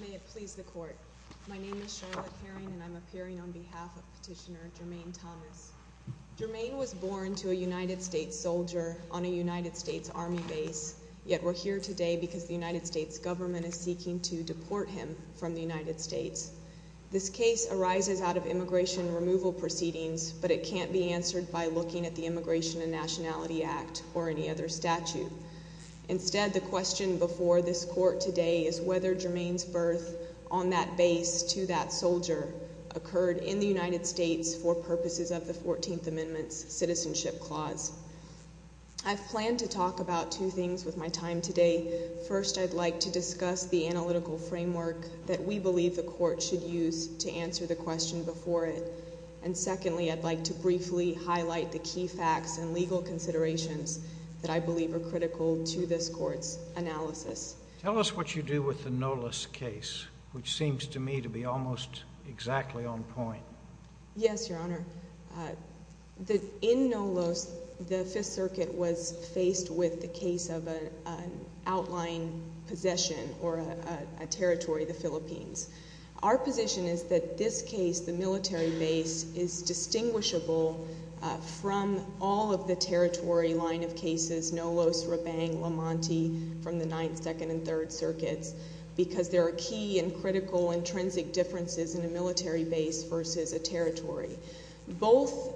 May it please the Court, my name is Charlotte Herring and I'm appearing on behalf of Petitioner Jermaine Thomas. Jermaine was born to a United States soldier on a United States Army base, yet we're here today because the United States government is seeking to deport him from the United States. This case arises out of immigration removal proceedings, but it can't be answered by looking at the Immigration and Nationality Act or any other statute. Instead, the question before this Court today is whether Jermaine's birth on that base to that soldier occurred in the United States for purposes of the 14th Amendment's Citizenship Clause. I've planned to talk about two things with my time today. First, I'd like to discuss the analytical framework that we believe the Court should use to answer the question before it. And secondly, I'd like to briefly highlight the key facts and legal considerations that I believe are critical to this Court's analysis. Tell us what you do with the Nolis case, which seems to me to be almost exactly on point. Yes, Your Honor. In Nolis, the Fifth Circuit was faced with the case of an outlying possession or a territory, the Philippines. Our position is that this case, the military base, is distinguishable from all of the territory line of cases, Nolis, Rabang, Lamonti, from the Ninth, Second, and Third Circuits, because there are key and critical intrinsic differences in a military base versus a territory. Both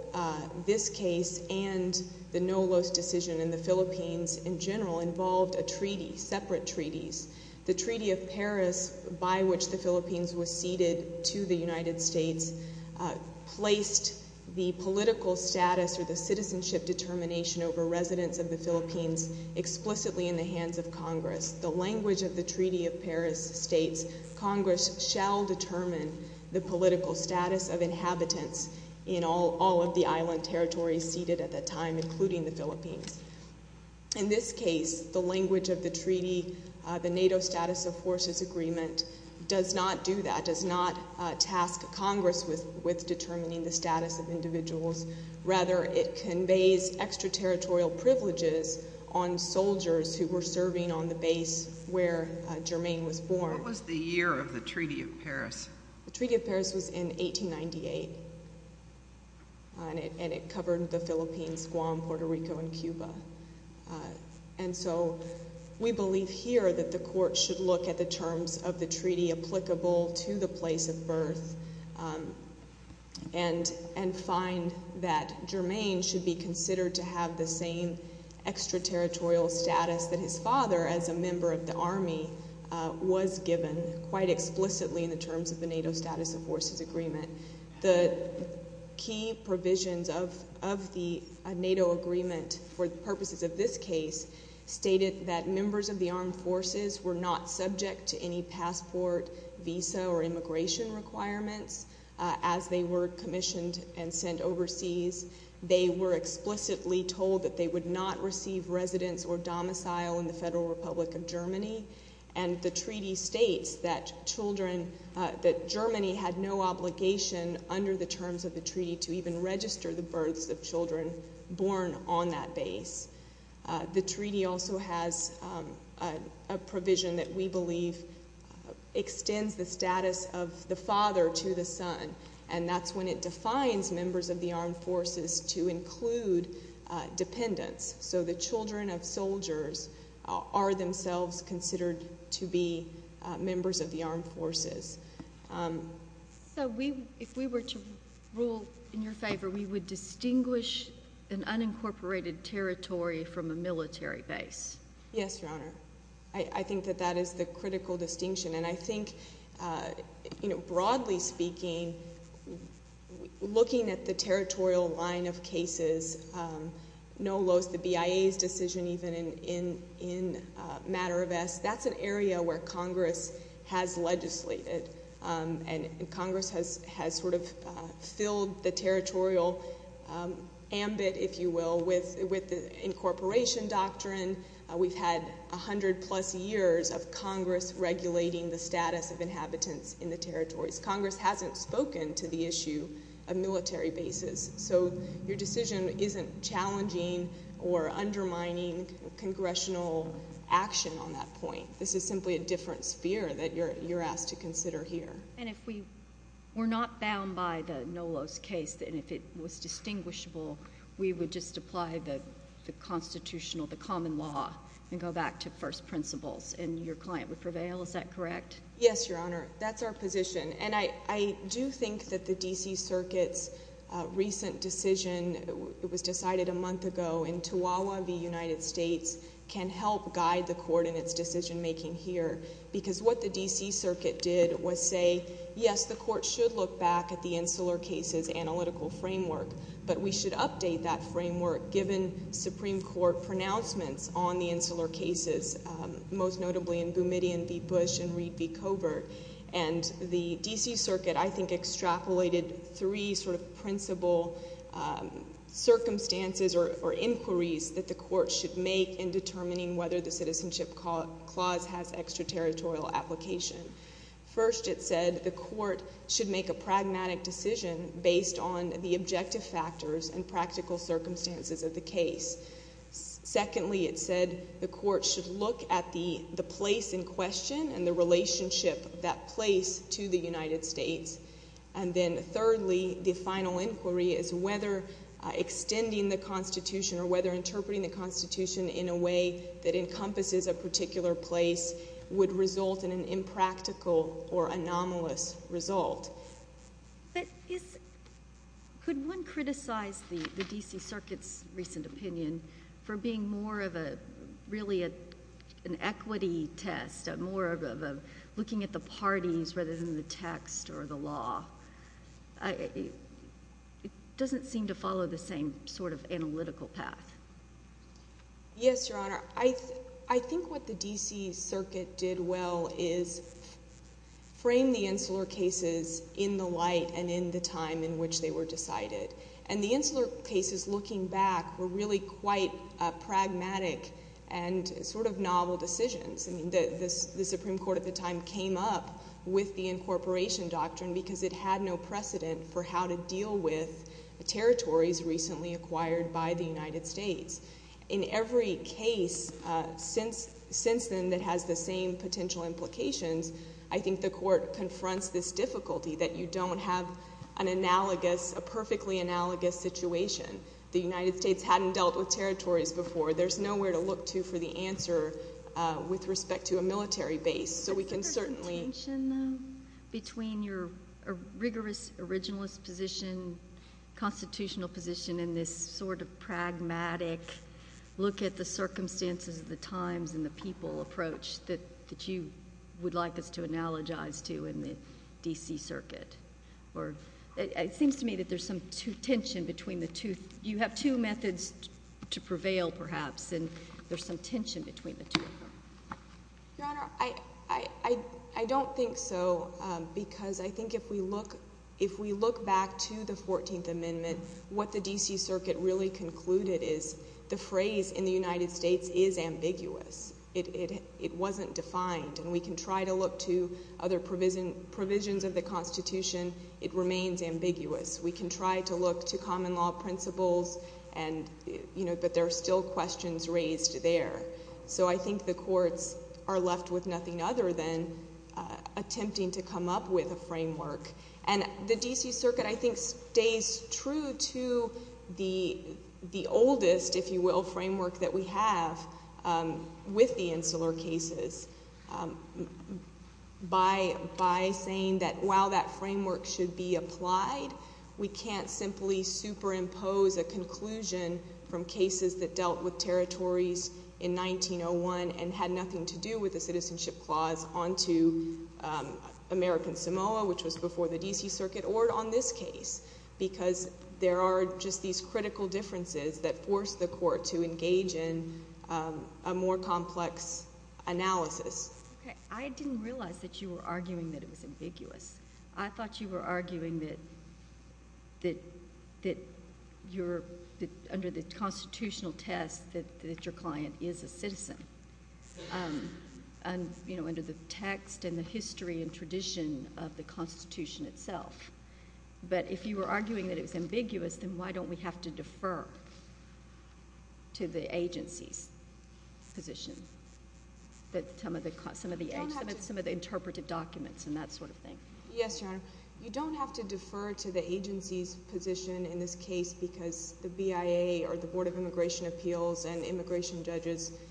this case and the Nolis decision in the Philippines in general involved a treaty, separate treaties. The Treaty of Paris, by which the Philippines was ceded to the United States, placed the political status or the citizenship determination over residents of the Philippines explicitly in the hands of Congress. The language of the Treaty of Paris states, Congress shall determine the political status of inhabitants in all of the island territories ceded at that time, including the Philippines. In this case, the language of the treaty, the NATO Status of Forces Agreement, does not do that, does not task Congress with determining the status of individuals. Rather, it conveys extraterritorial privileges on soldiers who were serving on the base where Germaine was born. What was the year of the Treaty of Paris? The Treaty of Paris was in 1898, and it covered the Philippines, Guam, Puerto Rico, and Cuba. And so, we believe here that the court should look at the terms of the treaty applicable to the place of birth and find that Germaine should be considered to have the same extraterritorial status that his father, as a member of the Army, was given quite explicitly in the terms of the NATO Status of Forces Agreement. The key provisions of the NATO Agreement for the purposes of this case stated that members of the armed forces were not subject to any passport, visa, or immigration requirements as they were commissioned and sent overseas. They were explicitly told that they would not receive residence or domicile in the Federal Republic of Germany, and the treaty states that children – that Germany had no obligation under the terms of the treaty to even register the births of children born on that base. The treaty also has a provision that we believe extends the status of the father to the son, and that's when it defines members of the armed forces to include dependents. So the children of soldiers are themselves considered to be members of the armed forces. So we – if we were to rule in your favor, we would distinguish an unincorporated territory from a military base? Yes, Your Honor. I think that that is the critical distinction, and I think, you know, broadly speaking, looking at the territorial line of cases, no less the BIA's decision even in matter of – that's an area where Congress has legislated, and Congress has sort of filled the territorial ambit, if you will, with the incorporation doctrine. We've had 100-plus years of Congress regulating the status of inhabitants in the territories. Congress hasn't spoken to the issue of military bases, so your decision isn't challenging or undermining congressional action on that point. This is simply a different sphere that you're asked to consider here. And if we were not bound by the NOLOS case, and if it was distinguishable, we would just apply the constitutional, the common law, and go back to first principles, and your client would prevail. Is that correct? Yes, Your Honor. That's our position. And I do think that the D.C. Circuit's recent decision, it was decided a month ago, in Toowawa v. United States, can help guide the Court in its decision-making here, because what the D.C. Circuit did was say, yes, the Court should look back at the Insular Cases Analytical Framework, but we should update that framework given Supreme Court pronouncements on the case. The D.C. Circuit, I think, extrapolated three sort of principal circumstances or inquiries that the Court should make in determining whether the Citizenship Clause has extraterritorial application. First, it said the Court should make a pragmatic decision based on the objective factors and practical circumstances of the case. Secondly, it said the Court should look at the place in question and the relationship of that place to the United States. And then thirdly, the final inquiry is whether extending the Constitution or whether interpreting the Constitution in a way that encompasses a particular place would result in an impractical or anomalous result. But could one criticize the D.C. Circuit's recent opinion for being more of a, really an equity test, more of a looking at the parties rather than the text or the law? It doesn't seem to follow the same sort of analytical path. Yes, Your Honor. I think what the D.C. Circuit did well is frame the Insular Cases in the light and in the time in which they were decided. And the Insular Cases, looking back, were really quite pragmatic and sort of novel decisions. I mean, the Supreme Court at the time came up with the incorporation doctrine because it had no precedent for how to deal with territories recently acquired by the United States. In every case since then that has the same potential implications, I think the Court confronts this difficulty that you don't have an analogous, a perfectly analogous situation. The United States hadn't dealt with territories before. There's nowhere to look to for the answer with respect to a military base. So we can certainly- Is there some tension between your rigorous originalist position, constitutional position in this sort of pragmatic look at the circumstances of the times and the people approach that you would like us to analogize to in the D.C. Circuit? It seems to me that there's some tension between the two. You have two methods to prevail, perhaps, and there's some tension between the two. Your Honor, I don't think so because I think if we look back to the Fourteenth Amendment, what the D.C. Circuit really concluded is the phrase in the United States is ambiguous. It wasn't defined, and we can try to look to other provisions of the Constitution, it remains ambiguous. We can try to look to common law principles, but there are still questions raised there. So I think the courts are left with nothing other than attempting to come up with a framework. And the D.C. Circuit, I think, stays true to the oldest, if you will, framework that we have with the insular cases by saying that while that framework should be applied, we can't simply superimpose a conclusion from cases that dealt with territories in 1901 and had nothing to do with the citizenship clause onto American Samoa, which was before the D.C. Circuit, or on this case because there are just these critical differences that force the court to engage in a more complex analysis. I didn't realize that you were arguing that it was ambiguous. I thought you were arguing that under the constitutional test that your client is a citizen, you know, under the text and the history and tradition of the Constitution itself. But if you were arguing that it was ambiguous, then why don't we have to defer to the agency's position, some of the interpretive documents and that sort of thing? Yes, Your Honor. You don't have to defer to the agency's position in this case because the BIA or the D.C.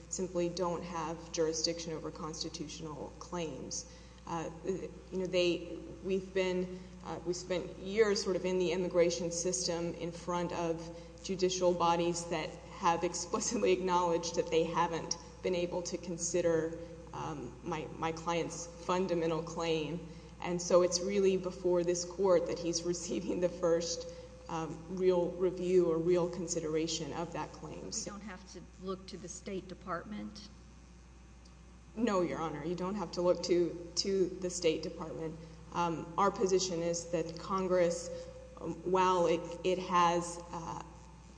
Circuit doesn't have jurisdiction over constitutional claims. You know, we've spent years sort of in the immigration system in front of judicial bodies that have explicitly acknowledged that they haven't been able to consider my client's fundamental claim. And so it's really before this court that he's receiving the first real review or real consideration of that claim. We don't have to look to the State Department? No, Your Honor. You don't have to look to the State Department. Our position is that Congress, while it has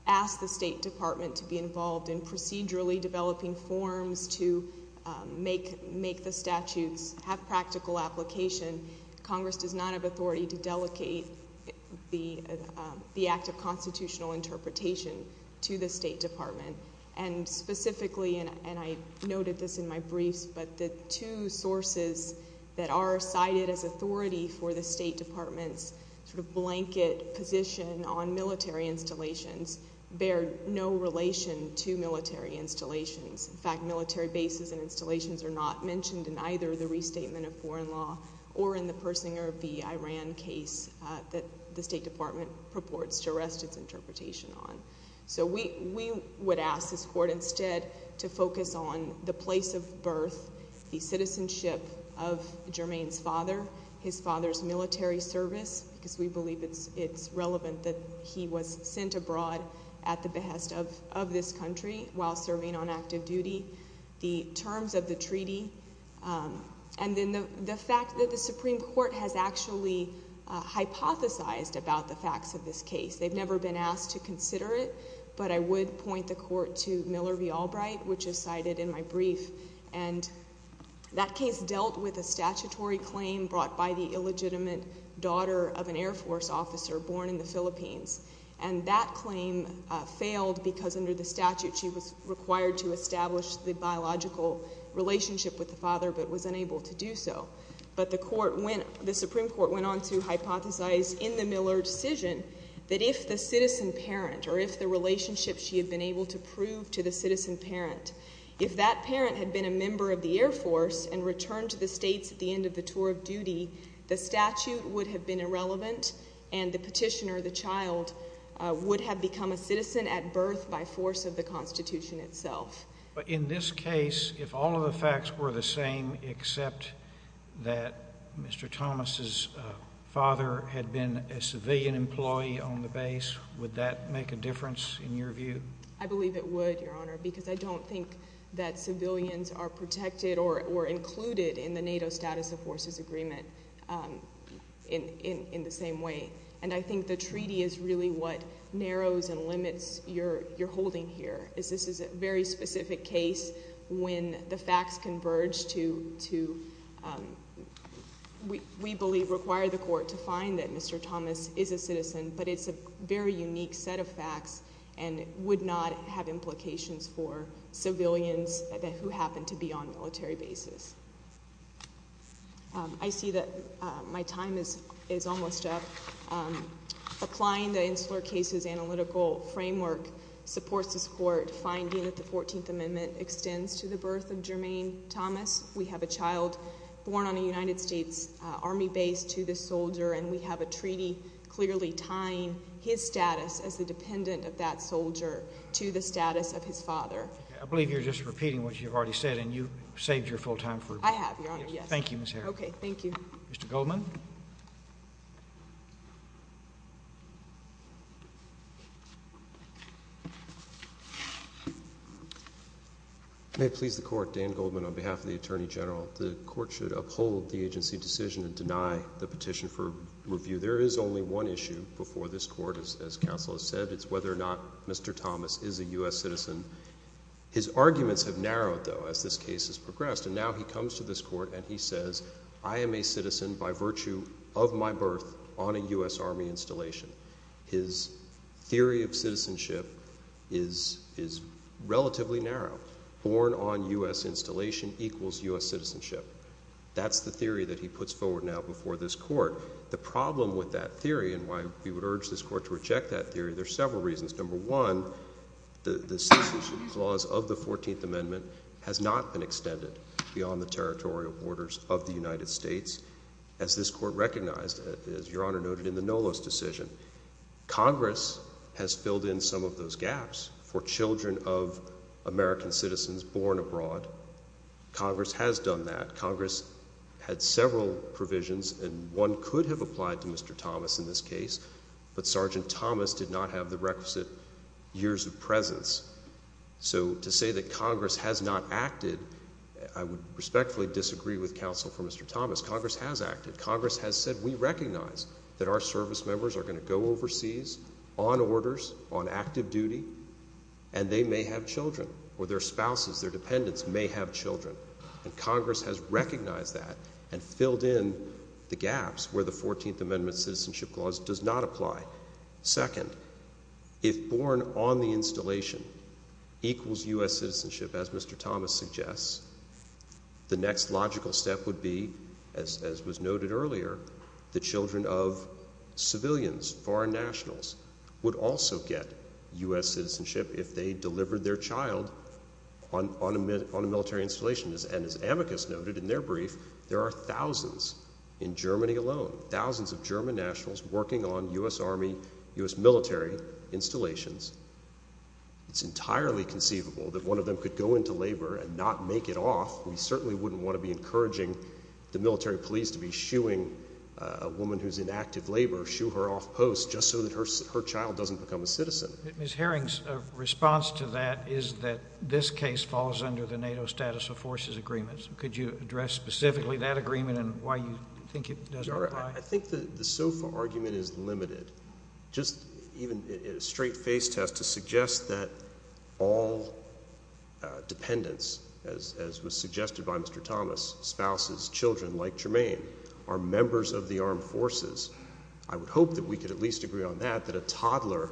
asked the State Department to be involved in procedurally developing forms to make the statutes have practical application, Congress does not have authority to delegate the act of constitutional interpretation to the State Department. And specifically, and I noted this in my briefs, but the two sources that are cited as authority for the State Department's sort of blanket position on military installations bear no relation to military installations. In fact, military bases and installations are not mentioned in either the restatement of foreign law or in the Persinger v. Iran case that the State Department purports to rest its interpretation on. So we would ask this court instead to focus on the place of birth, the citizenship of Germain's father, his father's military service, because we believe it's relevant that he was sent abroad at the behest of this country while serving on active duty, the terms of And the fact that the Supreme Court has actually hypothesized about the facts of this case, they've never been asked to consider it, but I would point the court to Miller v. Albright, which is cited in my brief, and that case dealt with a statutory claim brought by the illegitimate daughter of an Air Force officer born in the Philippines. And that claim failed because under the statute, she was required to establish the biological relationship with the father, but was unable to do so. But the Supreme Court went on to hypothesize in the Miller decision that if the citizen parent, or if the relationship she had been able to prove to the citizen parent, if that parent had been a member of the Air Force and returned to the States at the end of the tour of duty, the statute would have been irrelevant and the petitioner, the child, would have become a citizen at birth by force of the Constitution itself. But in this case, if all of the facts were the same except that Mr. Thomas's father had been a civilian employee on the base, would that make a difference in your view? I believe it would, Your Honor, because I don't think that civilians are protected or included in the NATO Status of Forces Agreement in the same way. And I think the treaty is really what narrows and limits your holding here. This is a very specific case when the facts converge to, we believe, require the court to find that Mr. Thomas is a citizen, but it's a very unique set of facts and would not have implications for civilians who happen to be on military bases. I see that my time is almost up. Applying the Insular Cases Analytical Framework supports this court finding that the 14th Amendment extends to the birth of Jermaine Thomas. We have a child born on a United States Army base to this soldier and we have a treaty clearly tying his status as the dependent of that soldier to the status of his father. I believe you're just repeating what you've already said and you've saved your full time for- I have, Your Honor, yes. Thank you, Ms. Harris. Okay, thank you. Mr. Goldman? May it please the court, Dan Goldman on behalf of the Attorney General. The court should uphold the agency decision and deny the petition for review. There is only one issue before this court, as counsel has said. It's whether or not Mr. Thomas is a U.S. citizen. His arguments have narrowed, though, as this case has progressed. And now he comes to this court and he says, I am a citizen by virtue of my birth on a U.S. Army installation. His theory of citizenship is relatively narrow. Born on U.S. installation equals U.S. citizenship. That's the theory that he puts forward now before this court. The problem with that theory and why we would urge this court to reject that theory, there's several reasons. Number one, the citizenship clause of the 14th Amendment has not been extended beyond the territorial borders of the United States. As this court recognized, as Your Honor noted in the Nolos decision, Congress has filled in some of those gaps for children of American citizens born abroad. Congress has done that. Congress had several provisions, and one could have applied to Mr. Thomas in this case. But Sergeant Thomas did not have the requisite years of presence. So to say that Congress has not acted, I would respectfully disagree with counsel for Mr. Thomas. Congress has acted. Congress has said, we recognize that our service members are going to go overseas on orders, on active duty, and they may have children, or their spouses, their dependents may have children. And Congress has recognized that and filled in the gaps where the 14th Amendment citizenship clause does not apply. Second, if born on the installation equals U.S. citizenship, as Mr. Thomas suggests, the next logical step would be, as was noted earlier, the children of civilians, foreign nationals, would also get U.S. And as amicus noted in their brief, there are thousands in Germany alone, thousands of German nationals working on U.S. army, U.S. military installations. It's entirely conceivable that one of them could go into labor and not make it off. We certainly wouldn't want to be encouraging the military police to be shooing a woman who's in active labor, shoo her off post, just so that her child doesn't become a citizen. Ms. Herring's response to that is that this case falls under the NATO status of forces agreements. Could you address specifically that agreement and why you think it doesn't apply? I think the SOFA argument is limited. Just even a straight face test to suggest that all dependents, as was suggested by Mr. Thomas, spouses, children like Jermaine, are members of the armed forces. I would hope that we could at least agree on that, that a toddler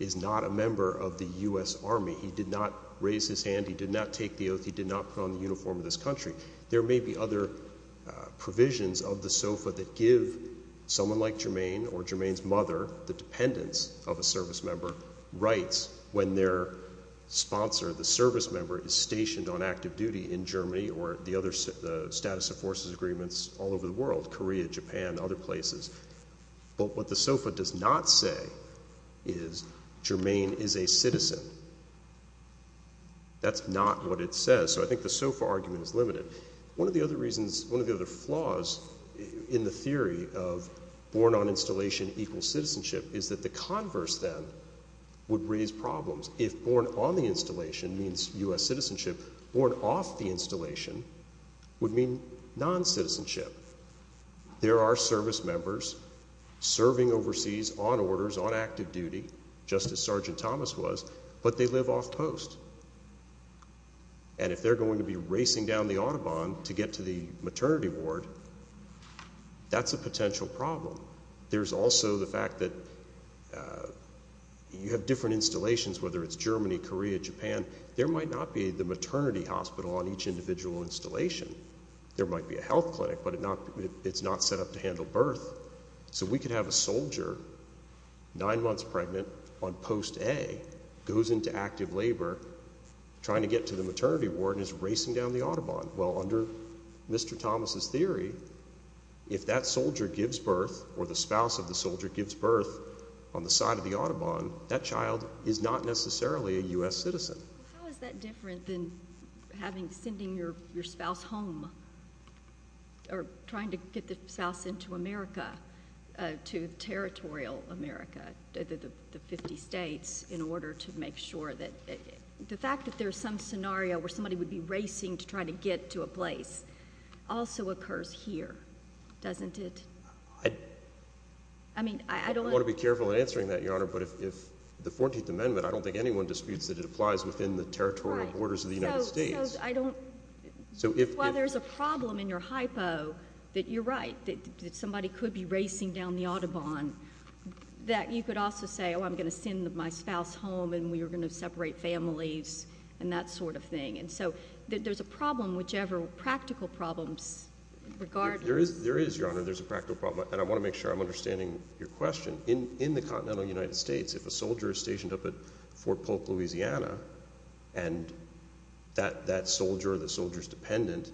is not a member of the U.S. Army. He did not raise his hand, he did not take the oath, he did not put on the uniform of this country. There may be other provisions of the SOFA that give someone like Jermaine or Jermaine's mother, the dependents of a service member, rights when their sponsor, the service member, is stationed on active duty in Germany or the other status of forces agreements all over the world. Korea, Japan, other places. But what the SOFA does not say is Jermaine is a citizen. That's not what it says, so I think the SOFA argument is limited. One of the other reasons, one of the other flaws in the theory of born on installation equals citizenship is that the converse then would raise problems. If born on the installation means U.S. citizenship, born off the installation would mean non-citizenship. There are service members serving overseas on orders, on active duty, just as Sergeant Thomas was, but they live off post. And if they're going to be racing down the autobahn to get to the maternity ward, that's a potential problem. There's also the fact that you have different installations, whether it's Germany, Korea, Japan, there might not be the maternity hospital on each individual installation. There might be a health clinic, but it's not set up to handle birth. So we could have a soldier, nine months pregnant on post A, goes into active labor trying to get to the maternity ward and is racing down the autobahn. Well, under Mr. Thomas's theory, if that soldier gives birth or the spouse of the soldier gives birth on the side of the autobahn, that child is not necessarily a U.S. citizen. How is that different than sending your spouse home, or trying to get the spouse into America, to territorial America, the 50 states, in order to make sure that, the fact that there's some scenario where somebody would be racing to try to get to a place also occurs here, doesn't it? I mean, I don't- I'm careful in answering that, Your Honor, but if the 14th Amendment, I don't think anyone disputes that it applies within the territorial borders of the United States. I don't, well, there's a problem in your hypo that you're right, that somebody could be racing down the autobahn. That you could also say, I'm going to send my spouse home, and we're going to separate families, and that sort of thing. And so, there's a problem, whichever practical problems, regardless. There is, Your Honor, there's a practical problem, and I want to make sure I'm understanding your question. In the continental United States, if a soldier is stationed up at Fort Polk, Louisiana, and that soldier, or the soldier's dependent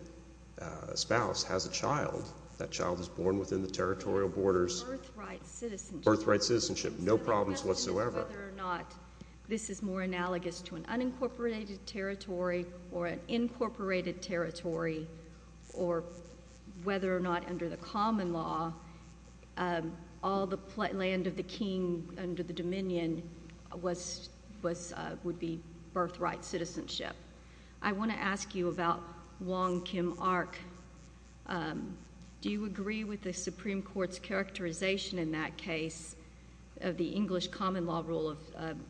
spouse, has a child, that child is born within the territorial borders. Earth right citizenship. Earth right citizenship, no problems whatsoever. Whether or not this is more analogous to an unincorporated territory, or an incorporated territory, or whether or not, under the common law, all the land of the king, under the dominion, was, would be birthright citizenship. I want to ask you about Wong Kim Ark. Do you agree with the Supreme Court's characterization in that case, of the English common law rule of,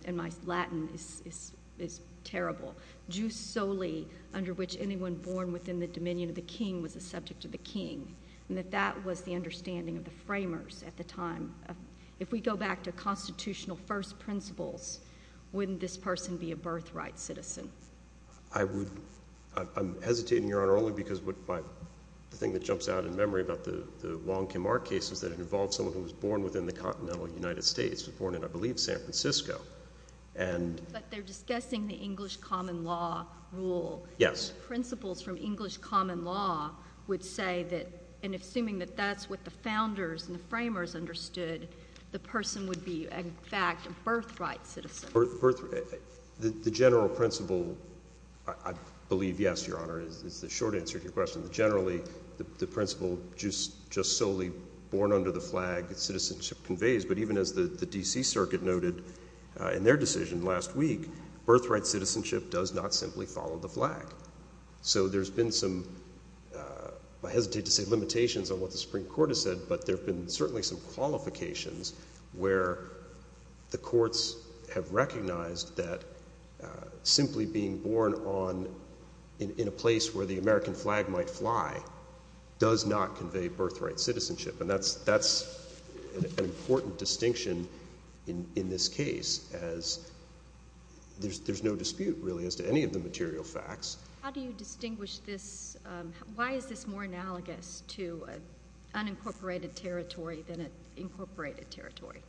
and my Latin is, is, is terrible. Jews solely, under which anyone born within the dominion of the king was the subject of the king, and that that was the understanding of the framers at the time. If we go back to constitutional first principles, wouldn't this person be a birthright citizen? I would, I'm, I'm hesitating, Your Honor, only because what my, the thing that jumps out in memory about the, the Wong Kim Ark case is that it involved someone who was born within the continental United States, was born in, I believe, San Francisco. And. But they're discussing the English common law rule. Yes. So principles from English common law would say that, and assuming that that's what the founders and the framers understood, the person would be, in fact, a birthright citizen. Birth, birth, the, the general principle, I, I believe yes, Your Honor, is, is the short answer to your question, that generally the, the principle just, just solely born under the flag of citizenship conveys, but even as the, the D.C. Circuit noted in their decision last week. Birthright citizenship does not simply follow the flag. So there's been some, I hesitate to say limitations on what the Supreme Court has said, but there have been certainly some qualifications where the courts have recognized that simply being born on, in, in a place where the American flag might fly, does not convey birthright citizenship. And that's, that's an important distinction in, in this case, as there's, there's no dispute, really, as to any of the material facts. How do you distinguish this why is this more analogous to an unincorporated territory than an incorporated territory?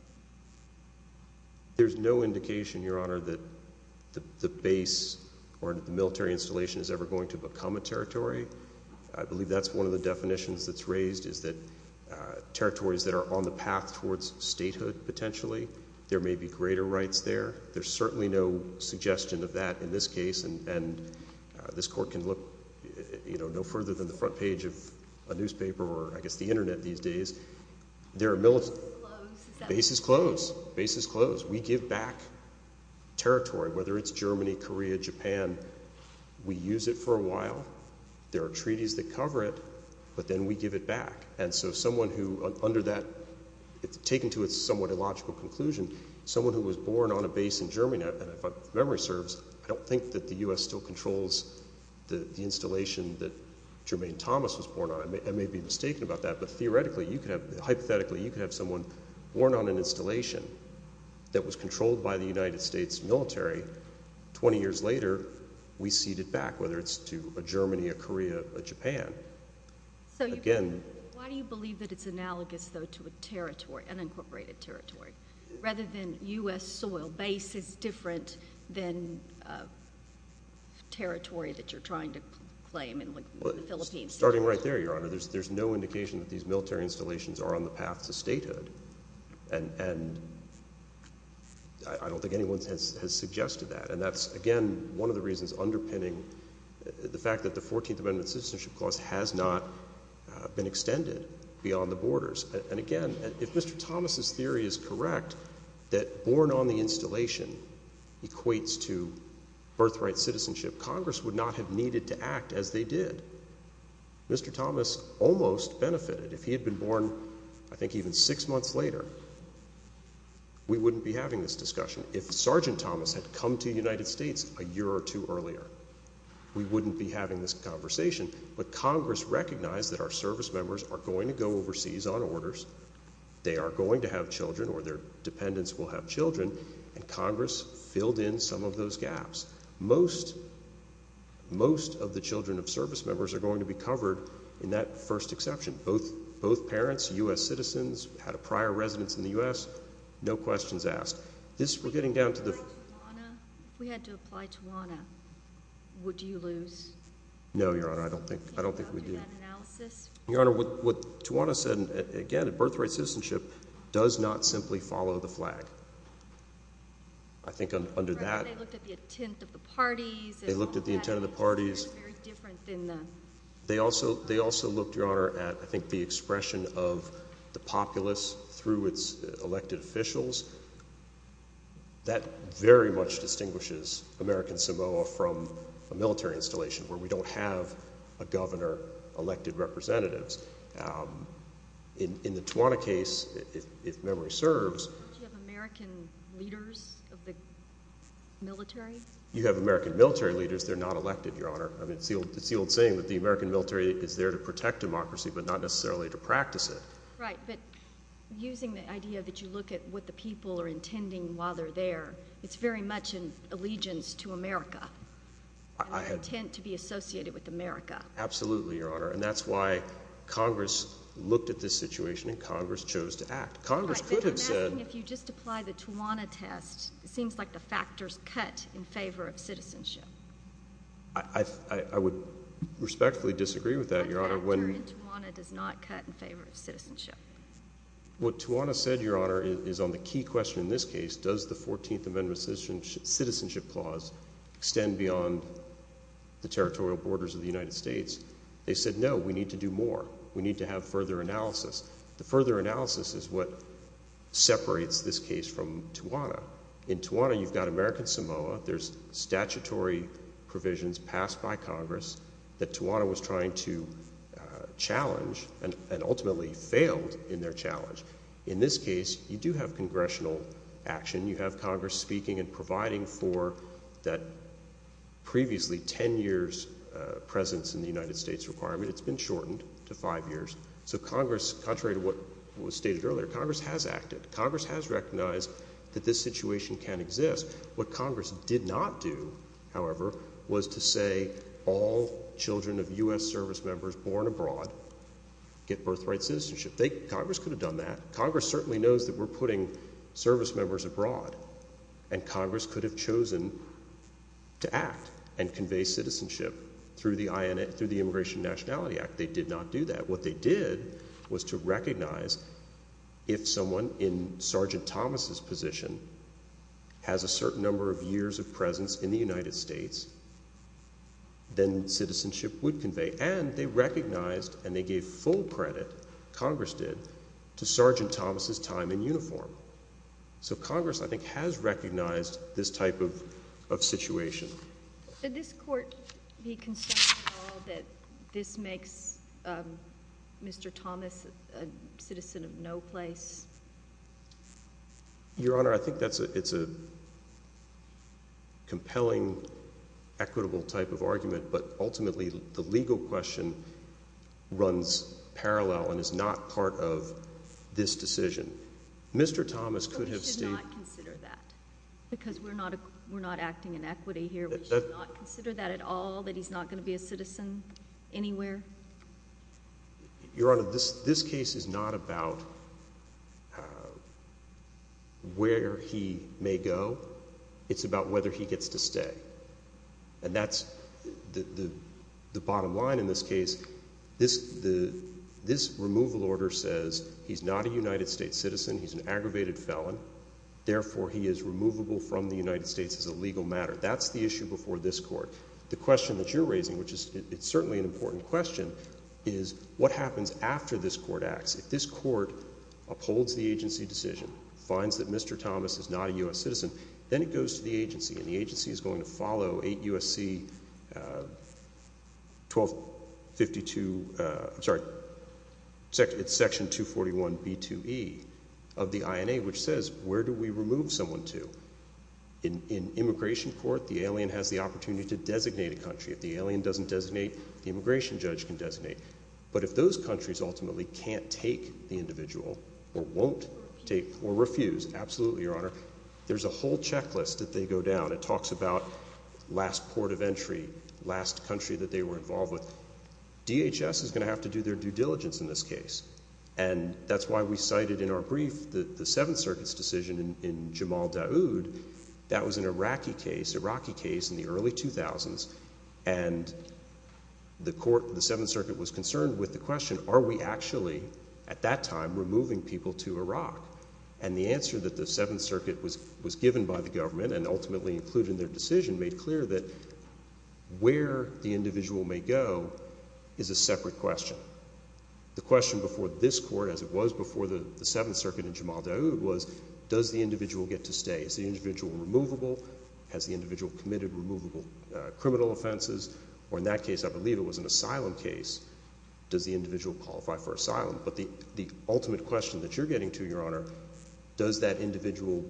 There's no indication, Your Honor, that the, the base or the military installation is ever going to become a territory. I believe that's one of the definitions that's raised is that territories that are on the path towards statehood, potentially. There may be greater rights there. There's certainly no suggestion of that in this case, and, and this court can look, you know, no further than the front page of a newspaper or I guess the internet these days. There are militant- Is that close? Base is closed. Base is closed. We give back territory, whether it's Germany, Korea, Japan. We use it for a while. There are treaties that cover it, but then we give it back. And so someone who, under that, it's taken to a somewhat illogical conclusion. Someone who was born on a base in Germany, and if memory serves, I don't think that the US still controls the, the installation that Jermaine Thomas was born on. I may, I may be mistaken about that, but theoretically, you could have, hypothetically, you could have someone born on an installation that was controlled by the United States military. 20 years later, we cede it back, whether it's to a Germany, a Korea, a Japan. So you- Again. Why do you believe that it's analogous, though, to a territory, an incorporated territory, rather than US soil? Base is different than territory that you're trying to claim in the Philippines. Starting right there, Your Honor. There's, there's no indication that these military installations are on the path to statehood, and, and I, I don't think anyone has, has suggested that. And that's, again, one of the reasons underpinning the fact that the 14th Amendment Citizenship Clause has not been extended beyond the borders. And again, if Mr. Thomas's theory is correct, that born on the installation equates to birthright citizenship, Congress would not have needed to act as they did. Mr. Thomas almost benefited if he had been born, I think, even six months later. We wouldn't be having this discussion. If Sergeant Thomas had come to the United States a year or two earlier, we wouldn't be having this conversation. But Congress recognized that our service members are going to go overseas on orders. They are going to have children, or their dependents will have children, and Congress filled in some of those gaps. Most, most of the children of service members are going to be covered in that first exception. Both, both parents, US citizens, had a prior residence in the US, no questions asked. This, we're getting down to the- If we had to apply to Tawana, would you lose? No, Your Honor, I don't think, I don't think we do. Your Honor, what Tawana said, again, a birthright citizenship does not simply follow the flag. I think under that- They looked at the intent of the parties. They looked at the intent of the parties. They're very different than the- They also, they also looked, Your Honor, at, I think, the expression of the populace through its elected officials. That very much distinguishes American Samoa from a military installation where we don't have a governor, elected representatives. In, in the Tawana case, if, if memory serves- Don't you have American leaders of the military? You have American military leaders. They're not elected, Your Honor. I mean, it's the old, it's the old saying that the American military is there to protect democracy, but not necessarily to practice it. Right, but using the idea that you look at what the people are doing, what the people are intending while they're there, it's very much an allegiance to America. I had- An intent to be associated with America. Absolutely, Your Honor, and that's why Congress looked at this situation and Congress chose to act. Congress could have said- Right, but I'm asking if you just apply the Tawana test, it seems like the factors cut in favor of citizenship. I, I, I would respectfully disagree with that, Your Honor. What factor in Tawana does not cut in favor of citizenship? What Tawana said, Your Honor, is on the key question in this case, does the 14th Amendment citizenship clause extend beyond the territorial borders of the United States? They said, no, we need to do more. We need to have further analysis. The further analysis is what separates this case from Tawana. In Tawana, you've got American Samoa. There's statutory provisions passed by Congress that Tawana was trying to get in their challenge. In this case, you do have congressional action. You have Congress speaking and providing for that previously 10 years presence in the United States requirement. It's been shortened to five years. So Congress, contrary to what was stated earlier, Congress has acted. Congress has recognized that this situation can exist. What Congress did not do, however, was to say all children of U.S. service members born abroad get birthright citizenship. Congress could have done that. Congress certainly knows that we're putting service members abroad. And Congress could have chosen to act and convey citizenship through the Immigration and Nationality Act. They did not do that. What they did was to recognize if someone in Sergeant Thomas's position has a certain number of years of presence in the United States, then citizenship would convey. And they recognized, and they gave full credit, Congress did, to Sergeant Thomas's time in uniform. So Congress, I think, has recognized this type of situation. Did this court be concerned at all that this makes Mr. Thomas a citizen of no place? Your Honor, I think that's a compelling, equitable type of question, runs parallel, and is not part of this decision. Mr. Thomas could have stayed. But we should not consider that, because we're not acting in equity here. We should not consider that at all, that he's not going to be a citizen anywhere? Your Honor, this case is not about where he may go. It's about whether he gets to stay. And that's the bottom line in this case. This removal order says he's not a United States citizen. He's an aggravated felon. Therefore, he is removable from the United States as a legal matter. That's the issue before this court. The question that you're raising, which is certainly an important question, is what happens after this court acts? If this court upholds the agency decision, finds that Mr. Thomas is not a U.S. citizen, then it goes to the agency. And the agency is going to follow 8 U.S.C. section 241b2e of the INA, which says where do we remove someone to? In immigration court, the alien has the opportunity to designate a country. If the alien doesn't designate, the immigration judge can designate. But if those countries ultimately can't take the individual, or won't take, or won't take the individual, then the agency is going to have to do their due diligence in this case. And that's why we cited in our brief the Seventh Circuit's decision in Jamal Daoud. That was an Iraqi case, Iraqi case in the early 2000s. And the court, the Seventh Circuit was concerned with the question, are we actually, at that time, removing people to Iraq? And the answer that the Seventh Circuit was given by the government and ultimately included in their decision made clear that where the individual may go is a separate question. The question before this court, as it was before the Seventh Circuit in Jamal Daoud, was does the individual get to stay? Is the individual removable? Has the individual committed removable criminal offenses? Or in that case, I believe it was an asylum case, does the individual qualify for asylum? But the ultimate question that you're getting to, Your Honor, does that individual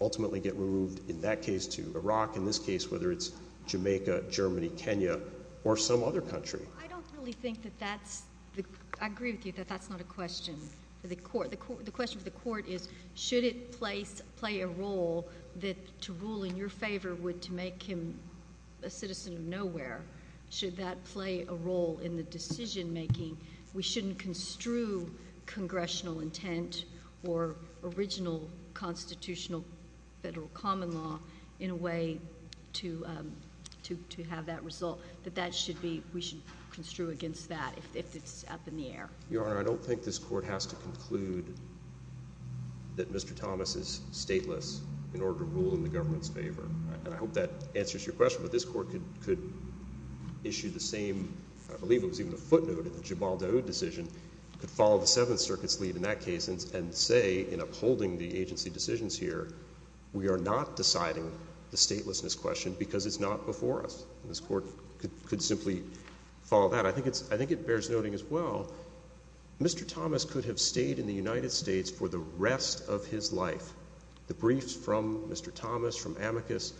ultimately get removed, in that case, to Iraq? In this case, whether it's Jamaica, Germany, Kenya, or some other country. I don't really think that that's the, I agree with you that that's not a question for the court. The question for the court is, should it play a role that to rule in your favor would to make him a citizen of nowhere? Should that play a role in the decision making? We shouldn't construe congressional intent or original constitutional federal common law in a way to have that result. That that should be, we should construe against that if it's up in the air. Your Honor, I don't think this court has to conclude that Mr. Thomas is stateless in order to rule in the government's favor. And I hope that answers your question. But this court could issue the same, I believe it was even a footnote, in the Gibaldo decision, could follow the Seventh Circuit's lead in that case and say, in upholding the agency decisions here, we are not deciding the statelessness question because it's not before us. This court could simply follow that. I think it bears noting as well, Mr. Thomas could have stayed in the United States for the rest of his life. The briefs from Mr. Thomas, from Amicus,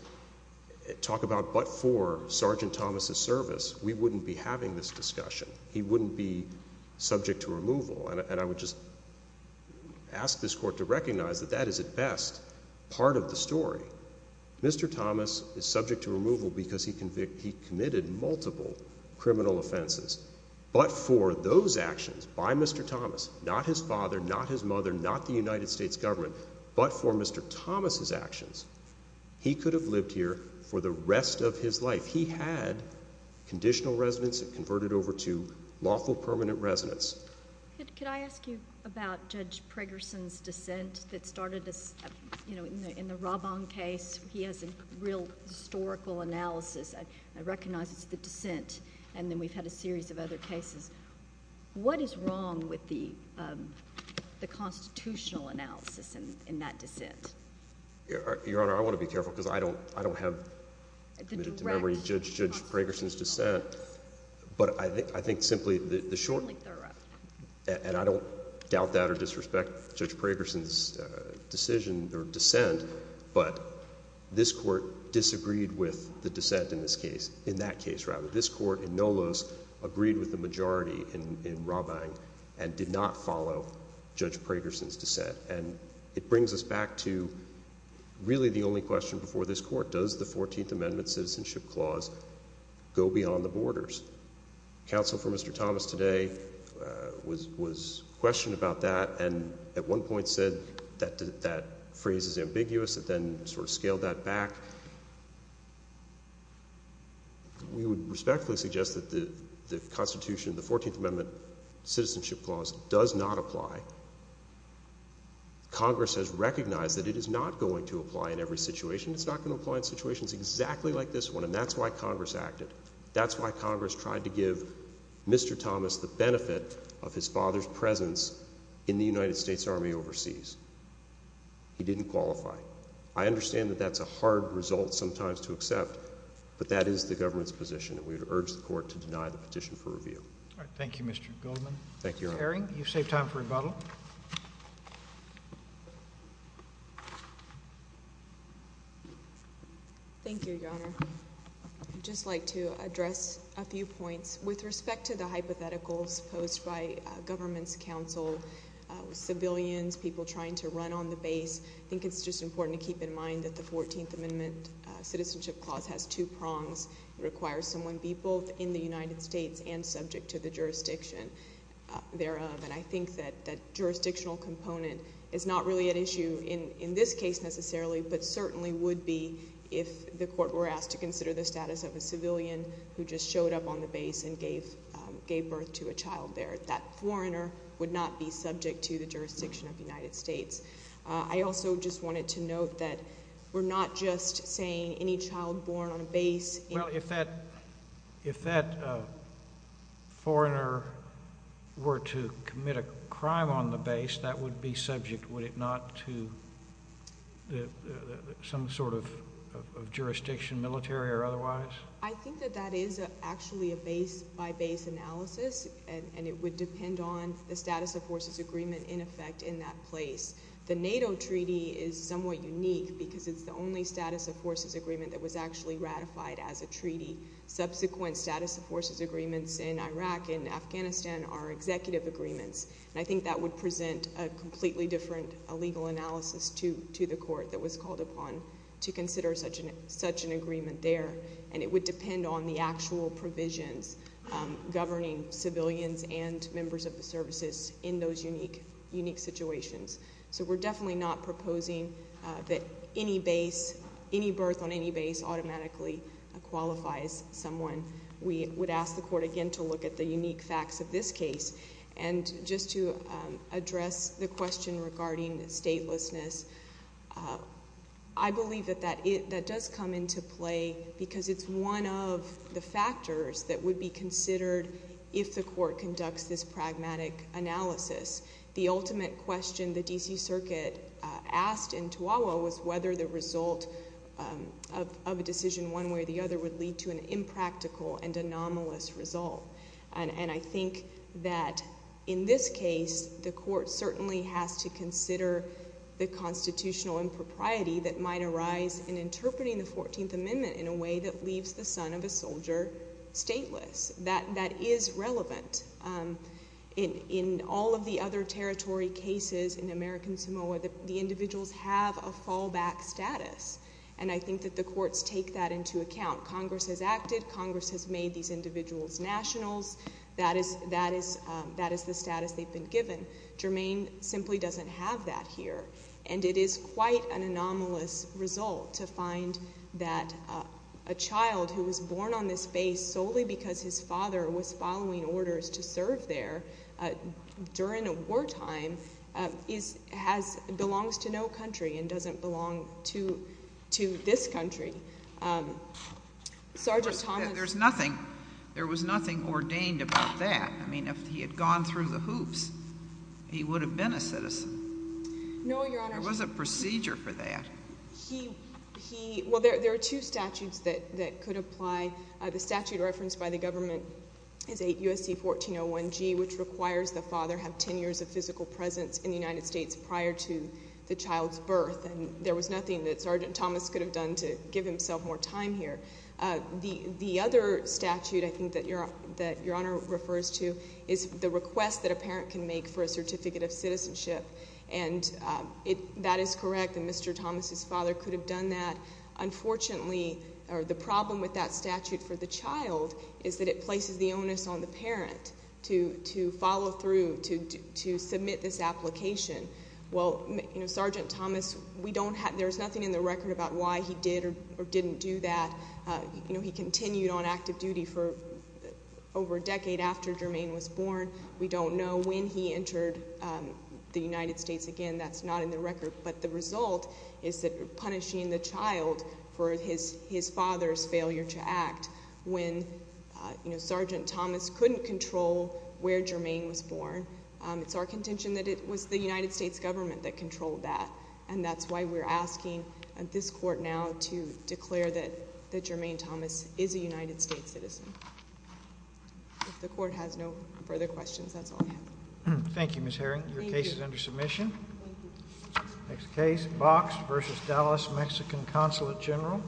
talk about but for Sergeant Thomas' service, we wouldn't be having this discussion. He wouldn't be subject to removal. And I would just ask this court to recognize that that is at best part of the story. Mr. Thomas is subject to removal because he committed multiple criminal offenses. But for those actions by Mr. Thomas, not his father, not his mother, not the United States government, but for Mr. Thomas' actions, he could have lived here for the rest of his life. If he had conditional residence, it converted over to lawful permanent residence. Could I ask you about Judge Pragerson's dissent that started in the Raban case? He has a real historical analysis that recognizes the dissent. And then we've had a series of other cases. What is wrong with the constitutional analysis in that dissent? Your Honor, I want to be careful because I don't have. I don't remember Judge Pragerson's dissent. But I think simply the short, and I don't doubt that or disrespect Judge Pragerson's decision or dissent. But this court disagreed with the dissent in this case, in that case rather. This court in Nolos agreed with the majority in Raban and did not follow Judge Pragerson's dissent. And it brings us back to really the only question before this court. Does the 14th Amendment Citizenship Clause go beyond the borders? Counsel for Mr. Thomas today was questioned about that and at one point said that that phrase is ambiguous and then sort of scaled that back. We would respectfully suggest that the Constitution, the 14th Amendment Citizenship Clause does not apply. Congress has recognized that it is not going to apply in every situation. It's not going to apply in situations exactly like this one and that's why Congress acted. That's why Congress tried to give Mr. Thomas the benefit of his father's presence in the United States Army overseas. He didn't qualify. I understand that that's a hard result sometimes to accept. But that is the government's position and we would urge the court to deny the petition for review. All right, thank you, Mr. Goldman. Thank you, Your Honor. Mr. Herring, you've saved time for rebuttal. Thank you, Your Honor. I'd just like to address a few points. With respect to the hypotheticals posed by government's counsel, civilians, people trying to run on the base. I think it's just important to keep in mind that the 14th Amendment Citizenship Clause has two prongs. It requires someone be both in the United States and subject to the jurisdiction thereof. And I think that jurisdictional component is not really at issue in this case necessarily, but certainly would be if the court were asked to consider the status of a civilian who just showed up on the base and gave birth to a child there. That foreigner would not be subject to the jurisdiction of the United States. I also just wanted to note that we're not just saying any child born on a base- Well, if that foreigner were to commit a crime on the base, that would be subject, would it not to some sort of jurisdiction, military or otherwise? I think that that is actually a base-by-base analysis, and it would depend on the status of forces agreement in effect in that place. The NATO treaty is somewhat unique because it's the only status of forces agreement that was actually ratified as a treaty. Subsequent status of forces agreements in Iraq and Afghanistan are executive agreements. And I think that would present a completely different legal analysis to the court that was called upon to consider such an agreement there. And it would depend on the actual provisions governing civilians and members of the services in those unique situations. So we're definitely not proposing that any birth on any base automatically qualifies someone. We would ask the court again to look at the unique facts of this case. And just to address the question regarding statelessness, I believe that that does come into play because it's one of the factors that would be considered if the court conducts this pragmatic analysis. The ultimate question the DC Circuit asked in Toowah was whether the result of a decision one way or the other would lead to an impractical and anomalous result. And I think that in this case, the court certainly has to consider the constitutional impropriety that might arise in interpreting the 14th Amendment in a way that leaves the son of a soldier stateless. That is relevant. In all of the other territory cases in American Samoa, the individuals have a fallback status. And I think that the courts take that into account. Congress has acted. Congress has made these individuals nationals. That is the status they've been given. Germaine simply doesn't have that here. And it is quite an anomalous result to find that a child who was born on this base solely because his father was following orders to serve there during a war time belongs to no country and doesn't belong to this country. Sergeant Thomas- There's nothing, there was nothing ordained about that. I mean, if he had gone through the hoops, he would have been a citizen. No, Your Honor. There was a procedure for that. He, well, there are two statutes that could apply. The statute referenced by the government is 8 U.S.C. 1401G, which requires the father have ten years of physical presence in the United States prior to the child's birth. And there was nothing that Sergeant Thomas could have done to give himself more time here. The other statute I think that Your Honor refers to is the request that a parent can make for a certificate of citizenship. And that is correct, and Mr. Thomas' father could have done that. Unfortunately, the problem with that statute for the child is that it places the onus on the parent to follow through, to submit this application. Well, Sergeant Thomas, we don't have, there's nothing in the record about why he did or didn't do that. He continued on active duty for over a decade after Jermaine was born. We don't know when he entered the United States. Again, that's not in the record. But the result is that punishing the child for his father's failure to act when Sergeant Thomas couldn't control where Jermaine was born. It's our contention that it was the United States government that controlled that. And that's why we're asking this court now to declare that Jermaine Thomas is a United States citizen. If the court has no further questions, that's all I have. Thank you, Ms. Herring. Your case is under submission. Thank you. Next case, Box versus Dallas Mexican Consulate General.